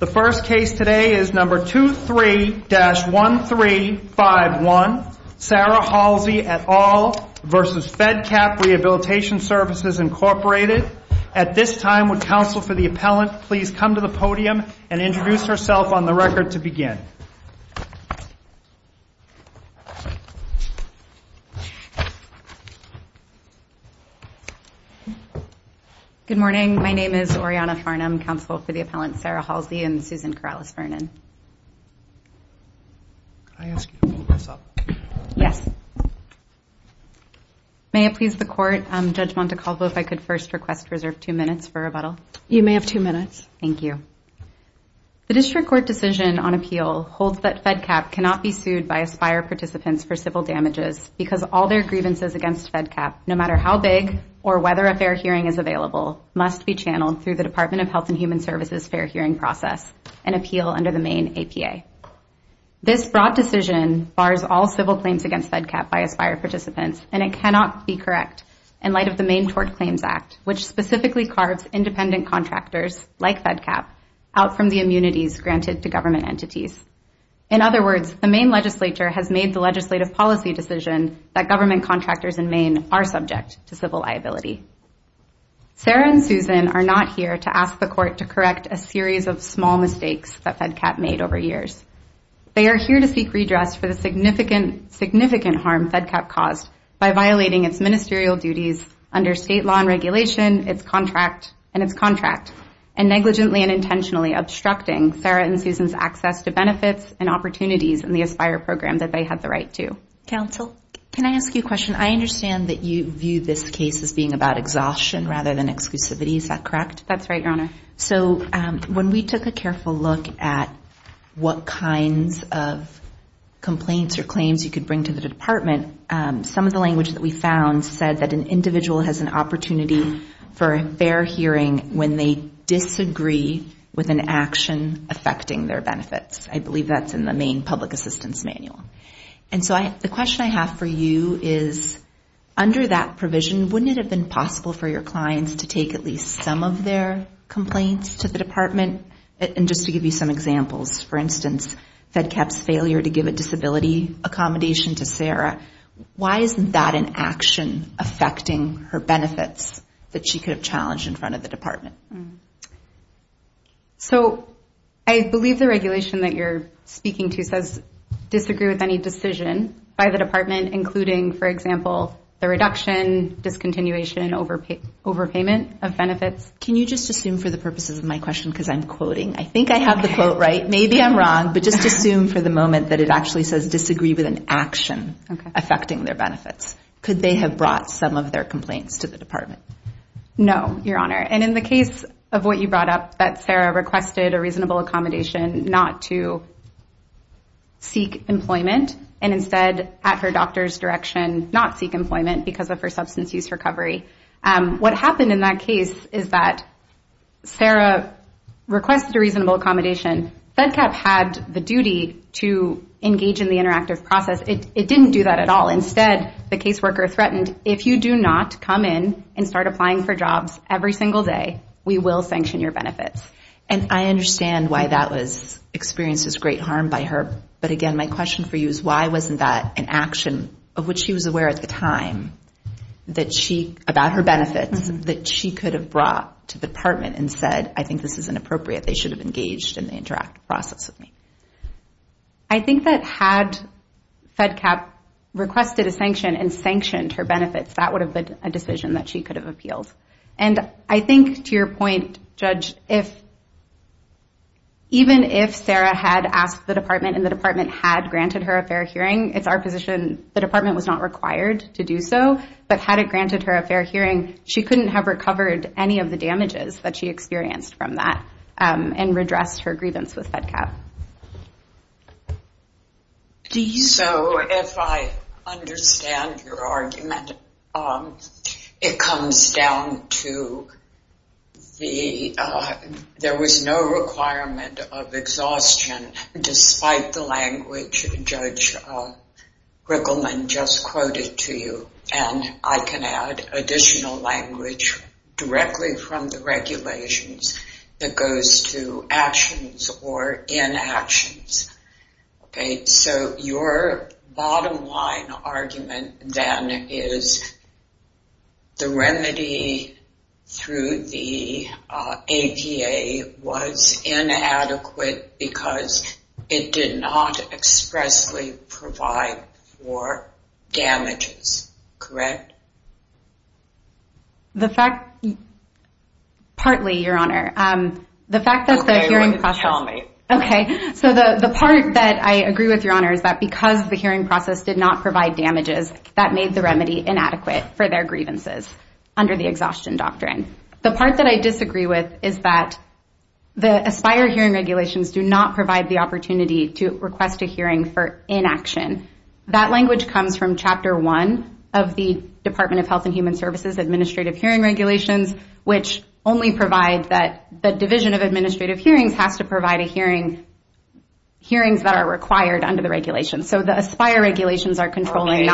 The first case today is number 23-1351, Sarah Halsey et al. v. Fedcap Rehabilitation Services, Inc. At this time, would counsel for the appellant please come to the podium and introduce herself on the record to begin? Good morning. My name is Oriana Farnham, counsel for the appellant Sarah Halsey and Susan Corrales-Vernon. May I ask you to hold this up? Yes. May it please the court, Judge Montecalvo, if I could first request reserved two minutes for rebuttal? You may have two minutes. Thank you. The district court decision on appeal holds that Fedcap cannot be sued by ASPIRE participants for civil damages because all their grievances against Fedcap, no matter how big or whether a fair hearing is available, must be channeled through the Department of Health and Human Services' fair hearing process and appeal under the Maine APA. This broad decision bars all civil claims against Fedcap by ASPIRE participants, and it cannot be correct in light of the Maine Tort Claims Act, which specifically carves independent contractors like Fedcap out from the immunities granted to government entities. In other words, the Maine legislature has made the legislative policy decision that government contractors in Maine are subject to civil liability. Sarah and Susan are not here to ask the court to correct a series of small mistakes that Fedcap made over years. They are here to seek redress for the significant harm Fedcap caused by violating its ministerial duties under state law and regulation, its contract and its contract, and negligently and intentionally obstructing Sarah and Susan's access to benefits and opportunities in the ASPIRE program that they had the right to. Counsel, can I ask you a question? I understand that you view this case as being about exhaustion rather than exclusivity. That's right, Your Honor. So when we took a careful look at what kinds of complaints or claims you could bring to the department, some of the language that we found said that an individual has an opportunity for a fair hearing when they disagree with an action affecting their benefits. I believe that's in the Maine Public Assistance Manual. And so the question I have for you is, under that provision, wouldn't it have been possible for your clients to take at least some of their complaints to the department? And just to give you some examples, for instance, Fedcap's failure to give a disability accommodation to Sarah, why isn't that an action affecting her benefits that she could have challenged in front of the department? So I believe the regulation that you're speaking to says disagree with any decision by the department, including, for example, the reduction, discontinuation, overpayment of benefits. Can you just assume for the purposes of my question, because I'm quoting. I think I have the quote right. Maybe I'm wrong, but just assume for the moment that it actually says disagree with an action affecting their benefits. Could they have brought some of their complaints to the department? No, Your Honor. And in the case of what you brought up, that Sarah requested a reasonable accommodation not to seek employment, and instead, at her doctor's direction, not seek employment because of her substance use recovery. What happened in that case is that Sarah requested a reasonable accommodation. Fedcap had the duty to engage in the interactive process. It didn't do that at all. Instead, the caseworker threatened, if you do not come in and start applying for jobs every single day, we will sanction your benefits. And I understand why that was experienced as great harm by her. But again, my question for you is why wasn't that an action of which she was aware at the time that she, about her benefits, that she could have brought to the department and said, I think this is inappropriate. They should have engaged in the interactive process with me. I think that had Fedcap requested a sanction and sanctioned her benefits, that would have been a decision that she could have appealed. And I think, to my understanding, even if Sarah had asked the department and the department had granted her a fair hearing, it's our position the department was not required to do so. But had it granted her a fair hearing, she couldn't have recovered any of the damages that she experienced from that and redressed her grievance with Fedcap. So if I understand your argument, it comes down to the, there was no requirement of exhaustion despite the language Judge Rickleman just quoted to you. And I can add additional language directly from the regulations that goes to actions or inactions that are not in the regulations. So your bottom line argument then is the remedy through the APA was inadequate because it did not expressly provide for damages, correct? The fact, partly, Your Honor. Okay. So the part that I agree with, Your Honor, is that because the hearing process did not provide damages, that made the remedy inadequate for their grievances under the exhaustion doctrine. The part that I disagree with is that the ASPIRE hearing regulations do not provide the opportunity to request a hearing for inaction. That language comes from Chapter 1 of the Department of Health and Human Services Administrative Hearing Regulations, which only provide that the Division of Administrative Hearings has to provide a hearing, hearings that are required under the regulations. So the ASPIRE regulations are controlling.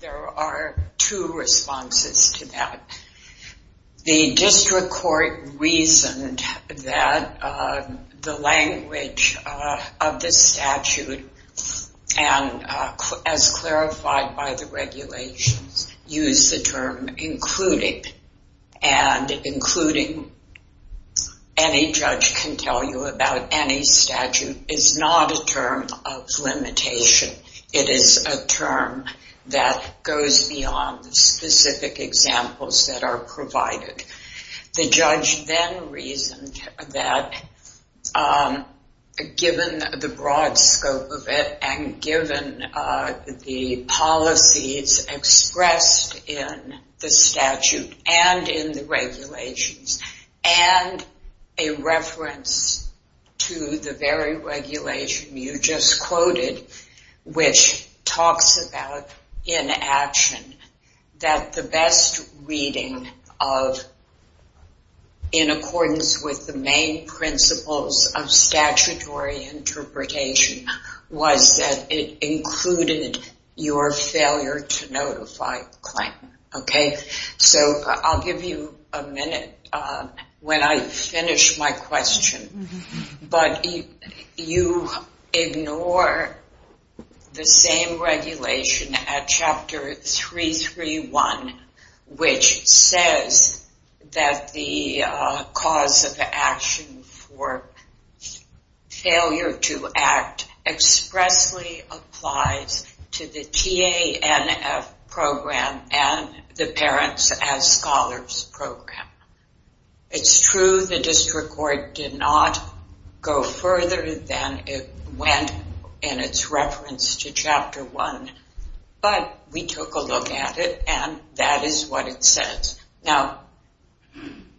There are two responses to that. The District Court reasoned that the language of the statute, and as clarified by the regulations, used the term including, and including any judge can tell you about any statute, is not a term of limitation. It is a term that goes beyond the specific examples that are provided. The judge then reasoned that given the broad scope of it and given the policies expressed in the statute and in the regulations and a reference to the very regulation you just quoted, which talks about inaction, that the best reading of in accordance with the main principles of statutory interpretation was that it included your failure to notify a claim. Okay. So I'll give you a minute when I finish my question. But you ignore the same regulation at Chapter 331, which says that the cause of the action for failure to act expressly applies to the TANF program and the people who are involved in the TANF program and the parents as scholars program. It's true the District Court did not go further than it went in its reference to Chapter 1, but we took a look at it and that is what it says. Now,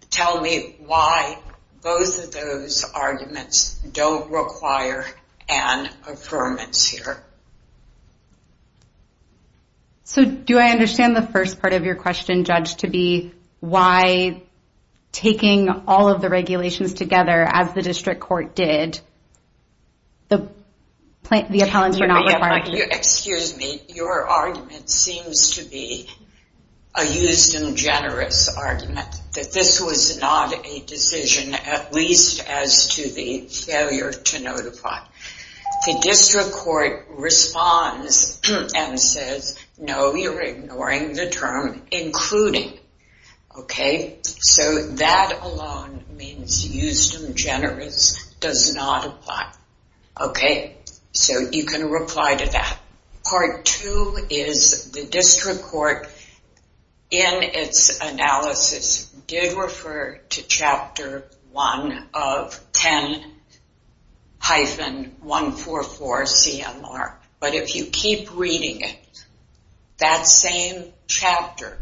tell me why both of those arguments don't require an affirmance here. So do I understand the first part of your question, Judge, to be why taking all of the regulations together as the District Court did, the appellants were not required to... Excuse me. Your argument seems to be a used and generous argument that this was not a decision, at least as to the failure to notify. The District Court took a look at this and says, no, you're ignoring the term including. Okay. So that alone means used and generous does not apply. Okay. So you can reply to that. Part two is the District Court in its analysis did refer to Chapter 1 of 10-144CMR, but if you keep reading it, that same chapter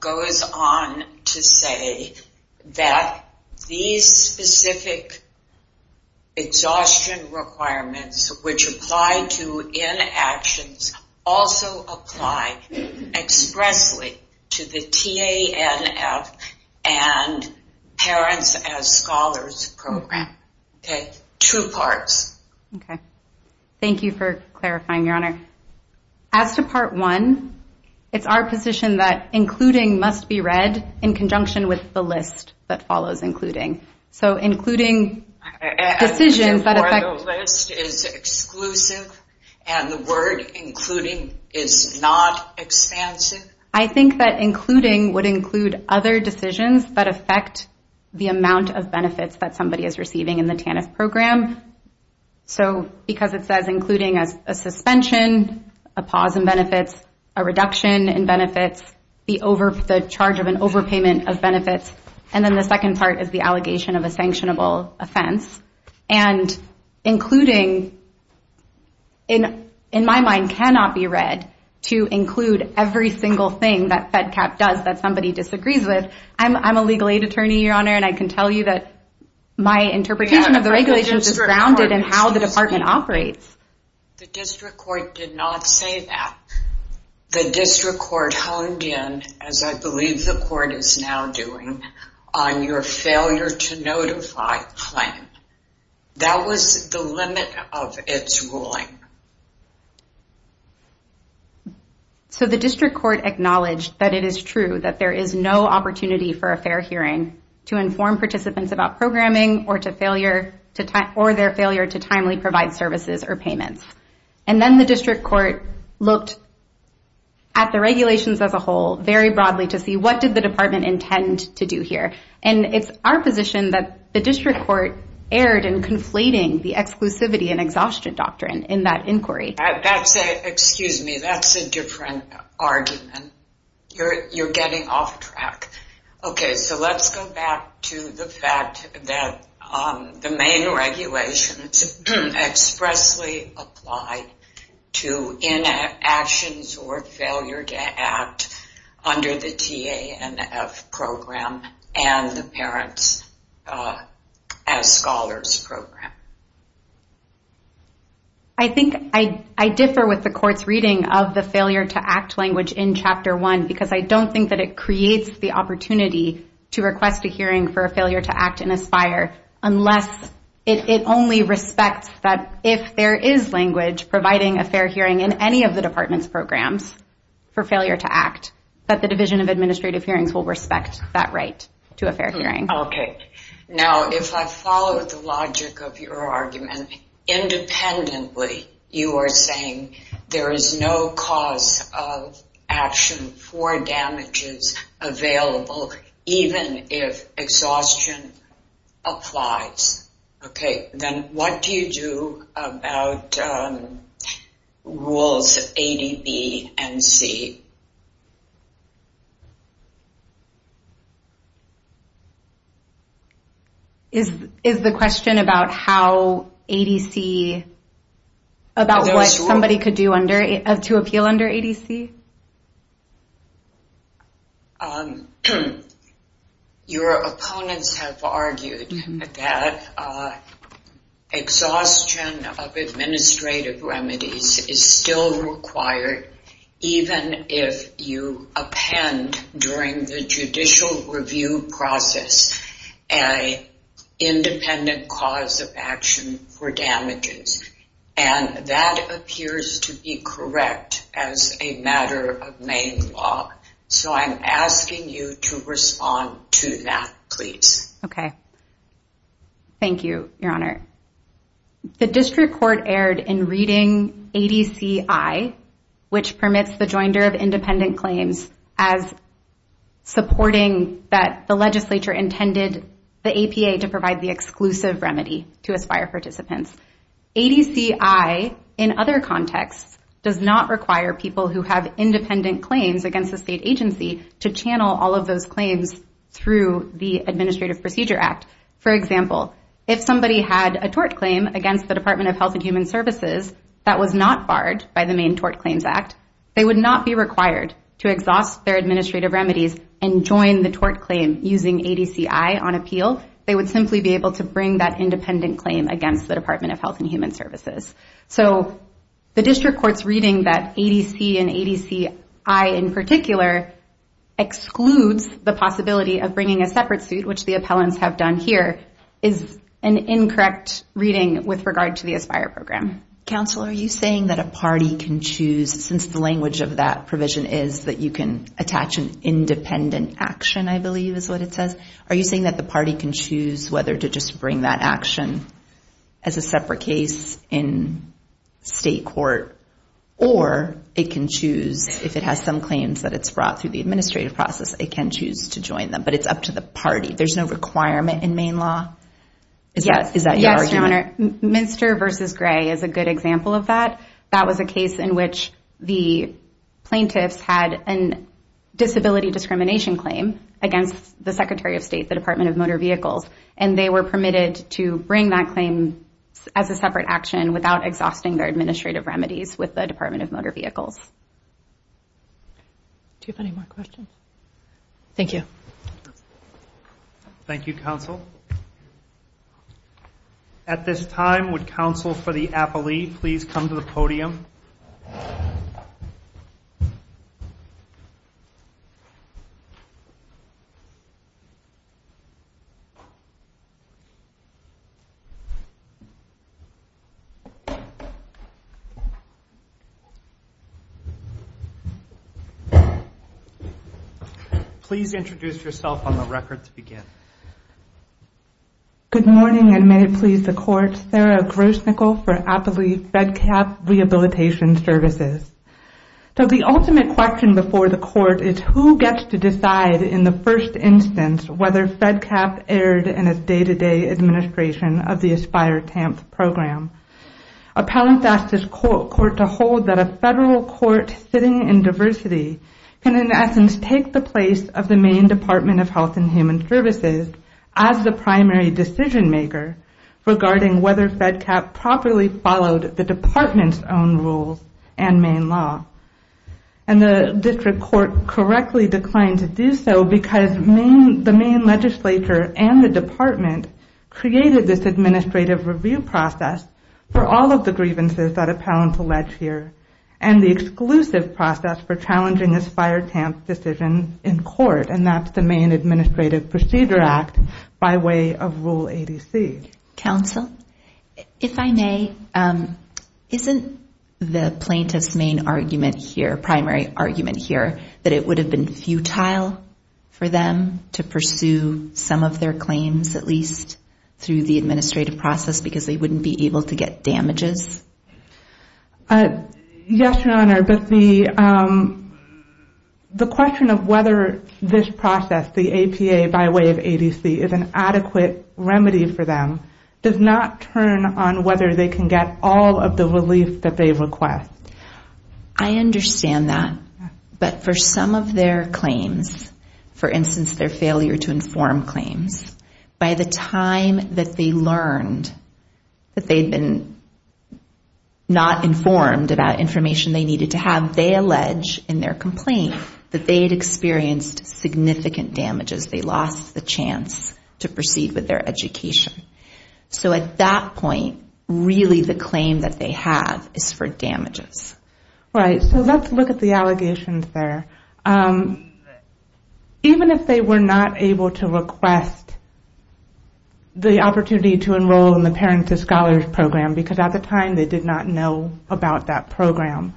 goes on to say that these specific exhaustion requirements, which apply to inactions, also apply expressly to the TANF and parents as scholars program. Okay. Two parts. Thank you for clarifying, Your Honor. As to part one, it's our position that including must be read in conjunction with the list that follows including. So including decisions... The list is exclusive and the word including is not expansive. I think that including would include other decisions that affect the amount of benefits that somebody is receiving in the TANF program. So because it says including as a suspension, a pause in benefits, a reduction in benefits, the charge of an overpayment of benefits. And then the second part is the allegation of a sanctionable offense. And including, in my mind, cannot be read to include every single thing that FEDCAP does that somebody disagrees with. I'm a legal aid consultant so I know exactly what that is and how it operates. The district court did not say that. The district court honed in, as I believe the court is now doing, on your failure to notify plan. That was the limit of its ruling. So the district court acknowledged that it is true that there is no opportunity for a fair And then the district court looked at the regulations as a whole very broadly to see what did the department intend to do here. And it's our position that the district court erred in conflating the exclusivity and exhaustion doctrine in that inquiry. Excuse me, that's a different argument. You're getting off track. Okay, so let's go back to the fact that the main regulations expressly applied to inactions or failure to act under the TANF program and the Parents as Scholars program. I think I differ with the court's reading of the failure to act language in Chapter 1 because I don't think that it creates the right to a fair hearing. I respect that if there is language providing a fair hearing in any of the department's programs for failure to act, that the Division of Administrative Hearings will respect that right to a fair hearing. Okay, now if I follow the logic of your argument, independently you are saying there is no cause of action for damages available even if exhaustion applies. Okay, then what do you do about rules 80B and C? Is the question about how 80C, about what somebody could do to appeal under 80C? Your opponents have argued that exhaustion of administrative remedies is still required even if you append during the judicial review process an independent cause of action for damages, and that appears to be correct as a matter of main law. So I'm asking you to respond to that, please. Thank you, Your Honor. The district court erred in reading 80C-I, which permits the joinder of independent claims as supporting that the legislature intended the APA to provide the exclusive remedy to aspire participants. 80C-I in other contexts does not require people who have independent claims against the state agency to channel all of those claims through the Administrative Procedure Act. For example, if somebody had a tort claim against the Department of Health and Human Services that was not barred by the main Tort Claims Act, they would not be required to exhaust their administrative remedies and join the tort claim using 80C-I on appeal. They would simply be able to bring that independent claim against the Department of Health and Human Services. So the district court's reading that 80C and 80C-I in particular excludes the possibility of bringing a separate suit, which the appellants have done here, is an incorrect reading with regard to the aspire program. Counsel, are you saying that a party can choose, since the language of that provision is that you can attach an independent action, I guess, as a separate case in state court, or it can choose, if it has some claims that it's brought through the administrative process, it can choose to join them. But it's up to the party. There's no requirement in main law? Is that your argument? Yes, Your Honor. Minster v. Gray is a good example of that. That was a case in which the plaintiffs had a disability discrimination claim against the Secretary of State, the Department of Motor Vehicles, and they were permitted to bring that claim as a separate action without exhausting their administrative remedies with the Department of Motor Vehicles. Do you have any more questions? Thank you. Thank you, counsel. At this time, would counsel for the appellee please come to the podium? Please introduce yourself on the record to begin. Good morning, and may it please the Court. Sarah Grosnickle for Appellee FedCap Rehabilitation Services. So the ultimate question before the Court is who gets to decide in the first instance whether FedCap erred in a day-to-day administration of the AspireTAMP program. Appellants ask this Court to hold that a federal court sitting in diversity can in essence take the place of the Maine Department of Health and Human Services as the primary decision maker regarding whether FedCap properly followed the Department's own rules and Maine law. And the District Court correctly declined to do so because the Maine legislature and the Department created this administrative review process for all of the grievances that appellants allege here and the exclusive process for challenging AspireTAMP's decision in court, and that's the Maine Administrative Procedure Act by way of Rule 80C. Counsel, if I may, isn't the plaintiff's main argument here, primary argument here, that it would have been futile for them to pursue some of their claims at least through the administrative process because they wouldn't be able to get damages? Yes, Your Honor, but the question of whether this process, the APA by way of 80C, is an adequate remedy for them does not turn on whether they can get all of the relief that they request. I understand that, but for some of their claims, for instance, their failure to inform claims, by the time that they learned that they had been not informed about information they needed to have, they allege in their complaint that they had experienced significant damages, they lost the chance to proceed with their education. So at that point, really the claim that they have is for damages. Right, so let's look at the allegations there. Even if they were not able to request the opportunity to enroll in the Parents as Scholars program, because at the time they did not know about that program,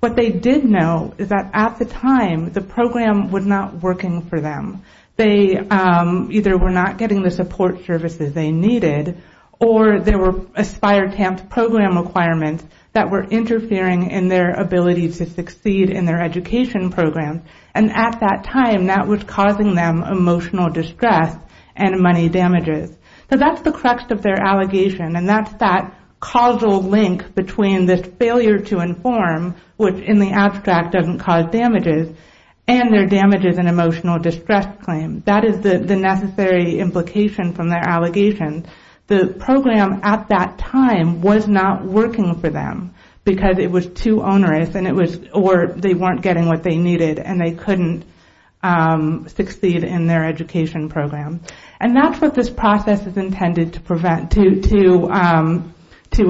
what they did know is that at the time the program was not working for them. They either were not getting the support services they needed or there were AspireTAMP's program requirements that were interfering in their ability to succeed in their education program, and at that time that was causing them emotional distress and money damages. So that's the crux of their allegation, and that's that causal link between this failure to inform, which in the abstract doesn't cause damages, and their damages and emotional distress claim. That is the necessary implication from their allegations. The program at that time was not working for them because it was too onerous or they weren't getting what they needed and they couldn't succeed in their education program. And that's what this process is intended to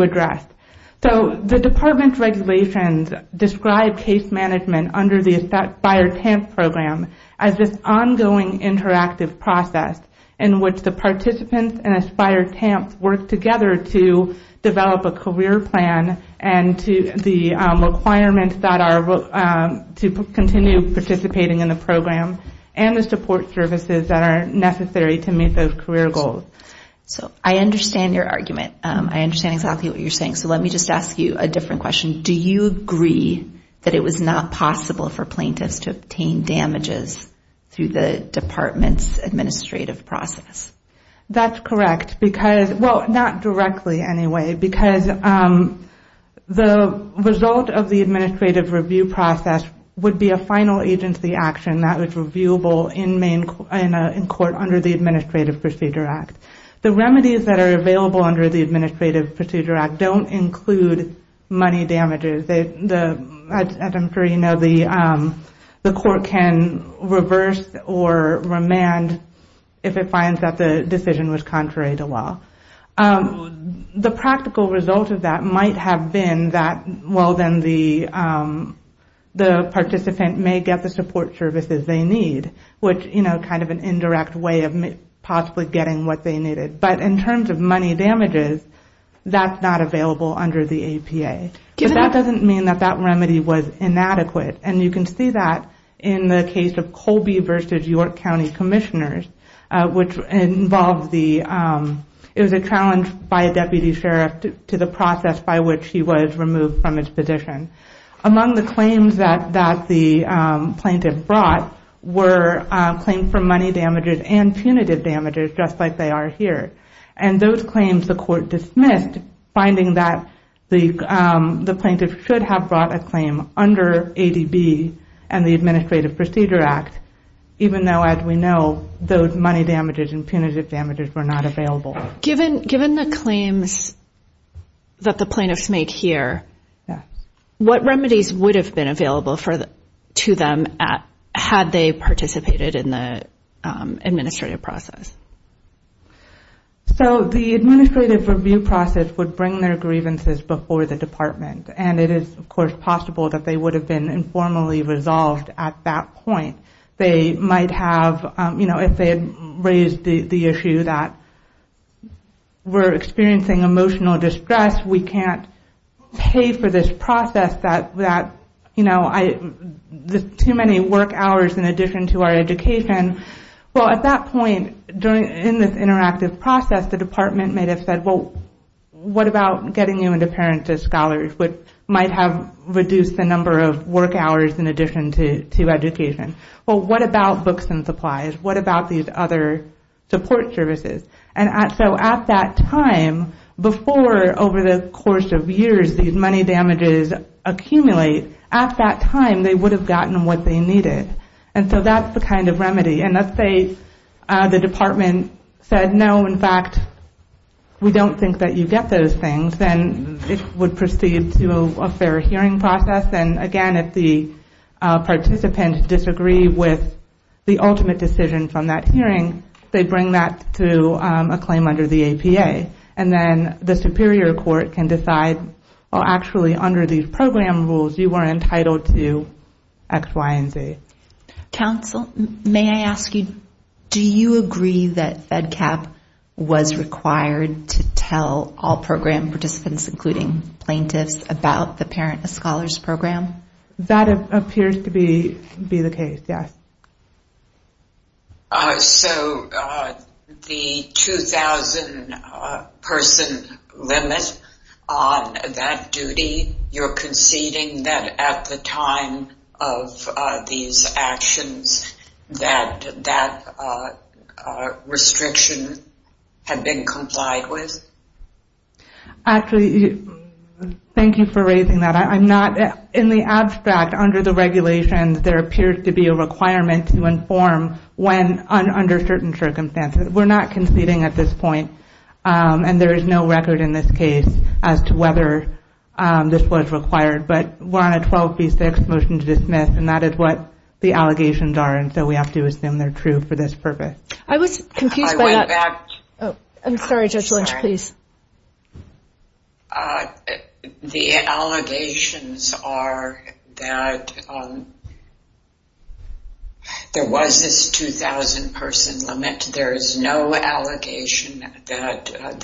address. So the department's regulations describe case management under the AspireTAMP program as this ongoing interactive process in which the participants and AspireTAMP work together to develop a career plan and the requirements that are to continue participating in the program and the support services that are necessary to meet those career goals. So I understand your argument. I understand exactly what you're saying. So let me just ask you a different question. Do you agree that it was not possible for plaintiffs to obtain damages through the department's administrative process? That's correct, because, well, not directly, anyway, because the result of the administrative review process would be a final agency action that was reviewable in court under the Administrative Procedure Act. The remedies that are available under the Administrative Procedure Act don't include money damages. As I'm sure you know, the court can reverse or remand if it finds that the decision is wrong. The practical result of that might have been that, well, then the participant may get the support services they need, which, you know, kind of an indirect way of possibly getting what they needed. But in terms of money damages, that's not available under the APA. But that doesn't mean that that remedy was inadequate. And you can see that in the case of Colby versus York County commissioners, which involved the, it was a challenge by a deputy sheriff to the process by which he was removed from his position. Among the claims that the plaintiff brought were claims for money damages and punitive damages, just like they are here. And those claims the court dismissed, finding that the plaintiff should have brought a claim under ADB and the Administrative Procedure Act, even though, as we know, those money damages and punitive damages were not available. Given the claims that the plaintiffs make here, what remedies would have been available to them had they participated in the administrative process? So the administrative review process would bring their grievances before the department. And it is, of course, possible that they would have been able to do that if they might have, you know, if they had raised the issue that we're experiencing emotional distress, we can't pay for this process that, you know, too many work hours in addition to our education. Well, at that point, in this interactive process, the department may have said, well, what about getting you into parents as scholars, which might have reduced the number of work hours in addition to education. Well, what about books and supplies? What about these other support services? And so at that time, before, over the course of years, these money damages accumulate, at that time, they would have gotten what they needed. And so that's the kind of remedy. And let's say the department said, no, in fact, we don't think that you get those things, then it would proceed to a fair hearing process. And, again, if the participant disagreed with the ultimate decision from that hearing, they bring that to a claim under the APA. And then the superior court can decide, well, actually, under these program rules, you are entitled to X, Y, and Z. Counsel, may I ask you, do you agree that FEDCAP was required to tell all program participants, including plaintiffs, about the payment? That appears to be the case, yes. So the 2,000 person limit on that duty, you're conceding that at the time of these actions, that restriction had been complied with? Actually, thank you for raising that. I'm not, in the abstract, under the regulations, there appears to be a requirement to inform when, under certain circumstances. We're not conceding at this point, and there is no record in this case as to whether this was required. But we're on a 12 v. 6 motion to dismiss, and that is what the allegations are, and so we have to assume they're true for this purpose. I'm sorry, Judge Lynch, please. The allegations are that there was this 2,000 person limit. There is no allegation that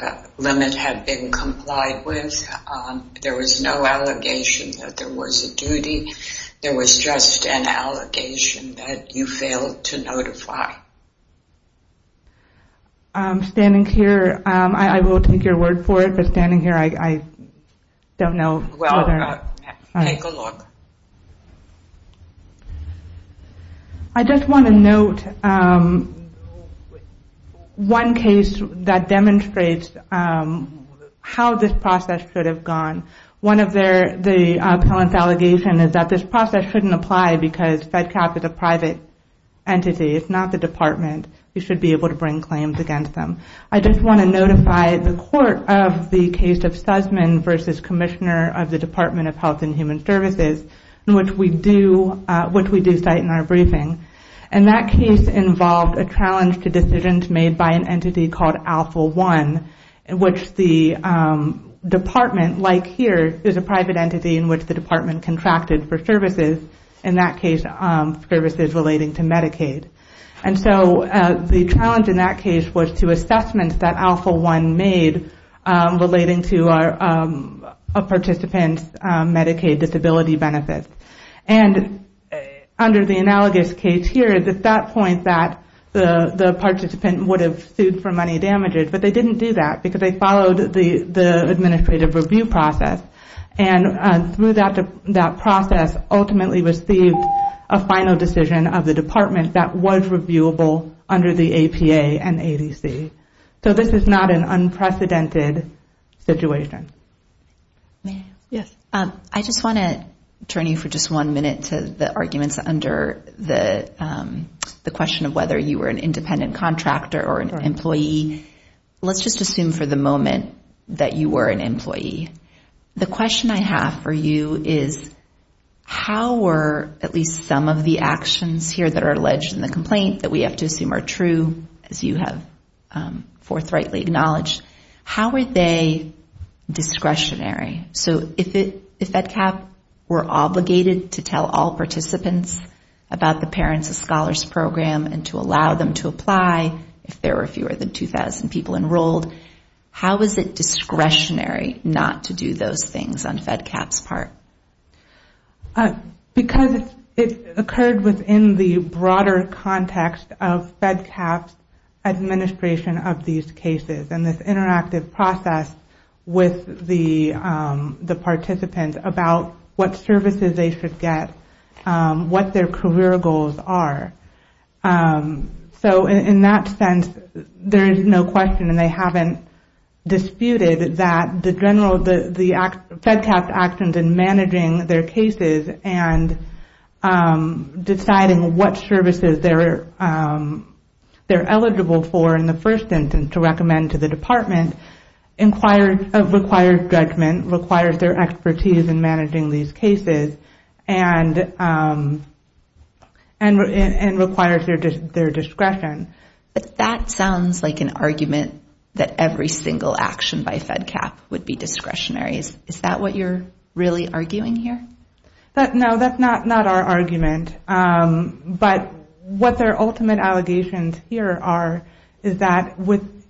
that limit had been complied with. There was no allegation that there was a duty. There was just an allegation that you failed to notify. I'm standing here, I will take your word for it, but standing here, I don't know. Well, take a look. I just want to note one case that demonstrates how this process could have gone. One of the appellant's allegations is that this process shouldn't apply because FedCap is a private entity, it's not the department. You should be able to bring claims against them. I just want to notify the court of the case of Sussman v. Commissioner of the Department of Health and Human Services, which we do cite in our briefing. And that case involved a challenge to decisions made by an entity called Alpha One, which the department, like here, is a private entity in which the department contracted for services. In that case, services relating to Medicaid. And so the challenge in that case was to assessments that Alpha One made relating to a participant's Medicaid disability benefits. And under the analogous case here, at that point, the participant would have sued for money damages, but they didn't do that because they followed the administrative review process. And through that process, ultimately received a final decision of the department that was reviewable under the APA and ADC. So this is not an unprecedented situation. I just want to turn you for just one minute to the arguments under the question of whether you were an independent contractor or an employee. Let's just assume for the moment that you were an employee. The question I have for you is how were at least some of the actions here that are alleged in the complaint that we have to assume are true, as you have forthrightly acknowledged, how were they discretionary? So if that cap were obligated to tell all participants about the parents of scholars program and to allow them to apply, if there were fewer than 2,000 people enrolled, how is it discretionary not to do those things on FEDCAP's part? Because it occurred within the broader context of FEDCAP's administration of these cases. And this interactive process with the participant about what services they should get, what their career goals are. So in that sense, there is no question and they haven't disputed that the general, the FEDCAP's actions in managing their cases and deciding what services they're eligible for in the first instance to recommend to the department requires judgment, requires their expertise in managing these cases. And requires their discretion. But that sounds like an argument that every single action by FEDCAP would be discretionary. Is that what you're really arguing here? No, that's not our argument. But what their ultimate allegations here are is that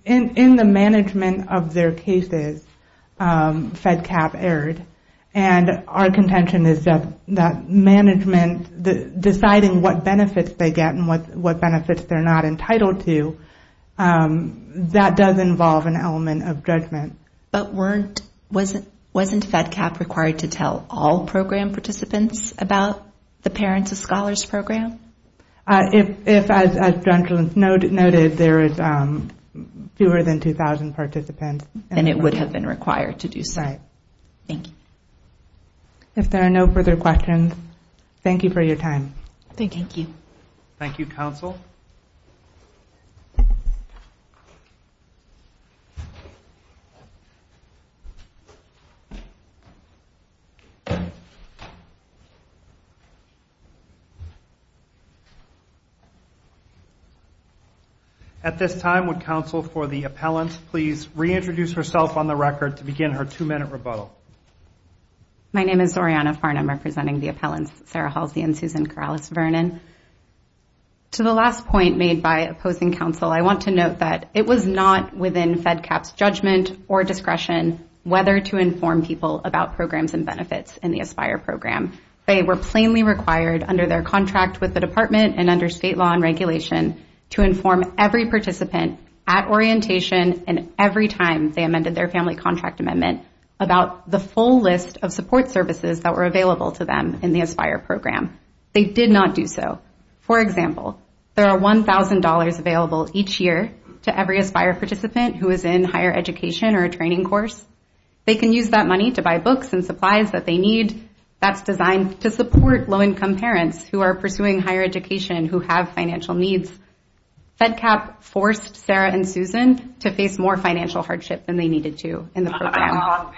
in the management of their cases, FEDCAP erred. And our contention is that management deciding what benefits they get and what benefits they're not entitled to, that does involve an element of judgment. But wasn't FEDCAP required to tell all program participants about the parents of scholars program? If, as Dr. Lentz noted, there is fewer than 2,000 participants. Then it would have been required to do so. If there are no further questions, thank you for your time. At this time, would counsel for the appellant please reintroduce herself on the record to begin her two-minute rebuttal. My name is Zoriana Farnum, representing the appellants, Sarah Halsey and Susan Corrales-Vernon. To the last point made by opposing counsel, I want to note that it was not within FEDCAP's judgment or discretion whether to inform people about programs and benefits in the ASPIRE program. They were plainly required under their contract with the department and under state law and regulation to inform every participant at orientation and every time they amended their family contract amendment about the full list of support services that were available to them in the ASPIRE program. They did not do so. For example, there are $1,000 available each year to every ASPIRE participant who is in higher education or a training course. They can use that money to buy books and supplies that they need that's designed to support low-income parents who are pursuing higher education who have financial needs. FEDCAP forced Sarah and Susan to face more financial hardship than they needed to in the program.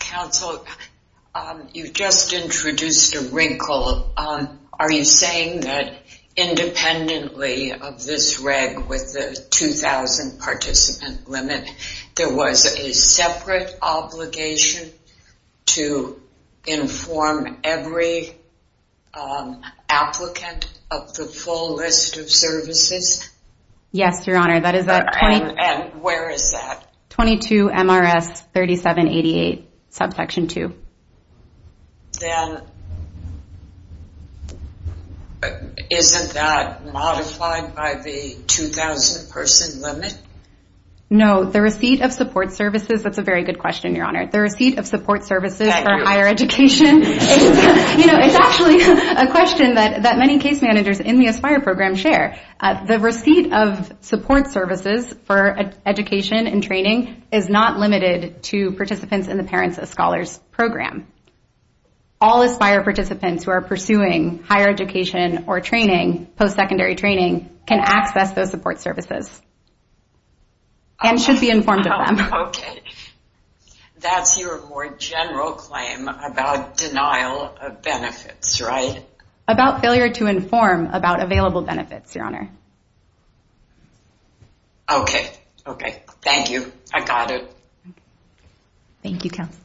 Counsel, you just introduced a wrinkle. Are you saying that independently of this reg with the 2,000 participant limit, there was a separate obligation to inform every applicant of the full list of services? Yes, Your Honor. And where is that? 22MRS3788, subsection 2. Isn't that modified by the 2,000 person limit? No, the receipt of support services, that's a very good question, Your Honor. The receipt of support services for higher education is actually a question that many case managers in the ASPIRE program share. The receipt of support services for education and training is not limited to participants in the Parents as Scholars program. All ASPIRE participants who are pursuing higher education or training, post-secondary training, can access those support services and should be informed of them. That's your more general claim about denial of benefits, right? About failure to inform about available benefits, Your Honor. Okay, thank you. I got it. Thank you, Counsel.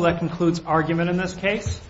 That concludes argument in this case.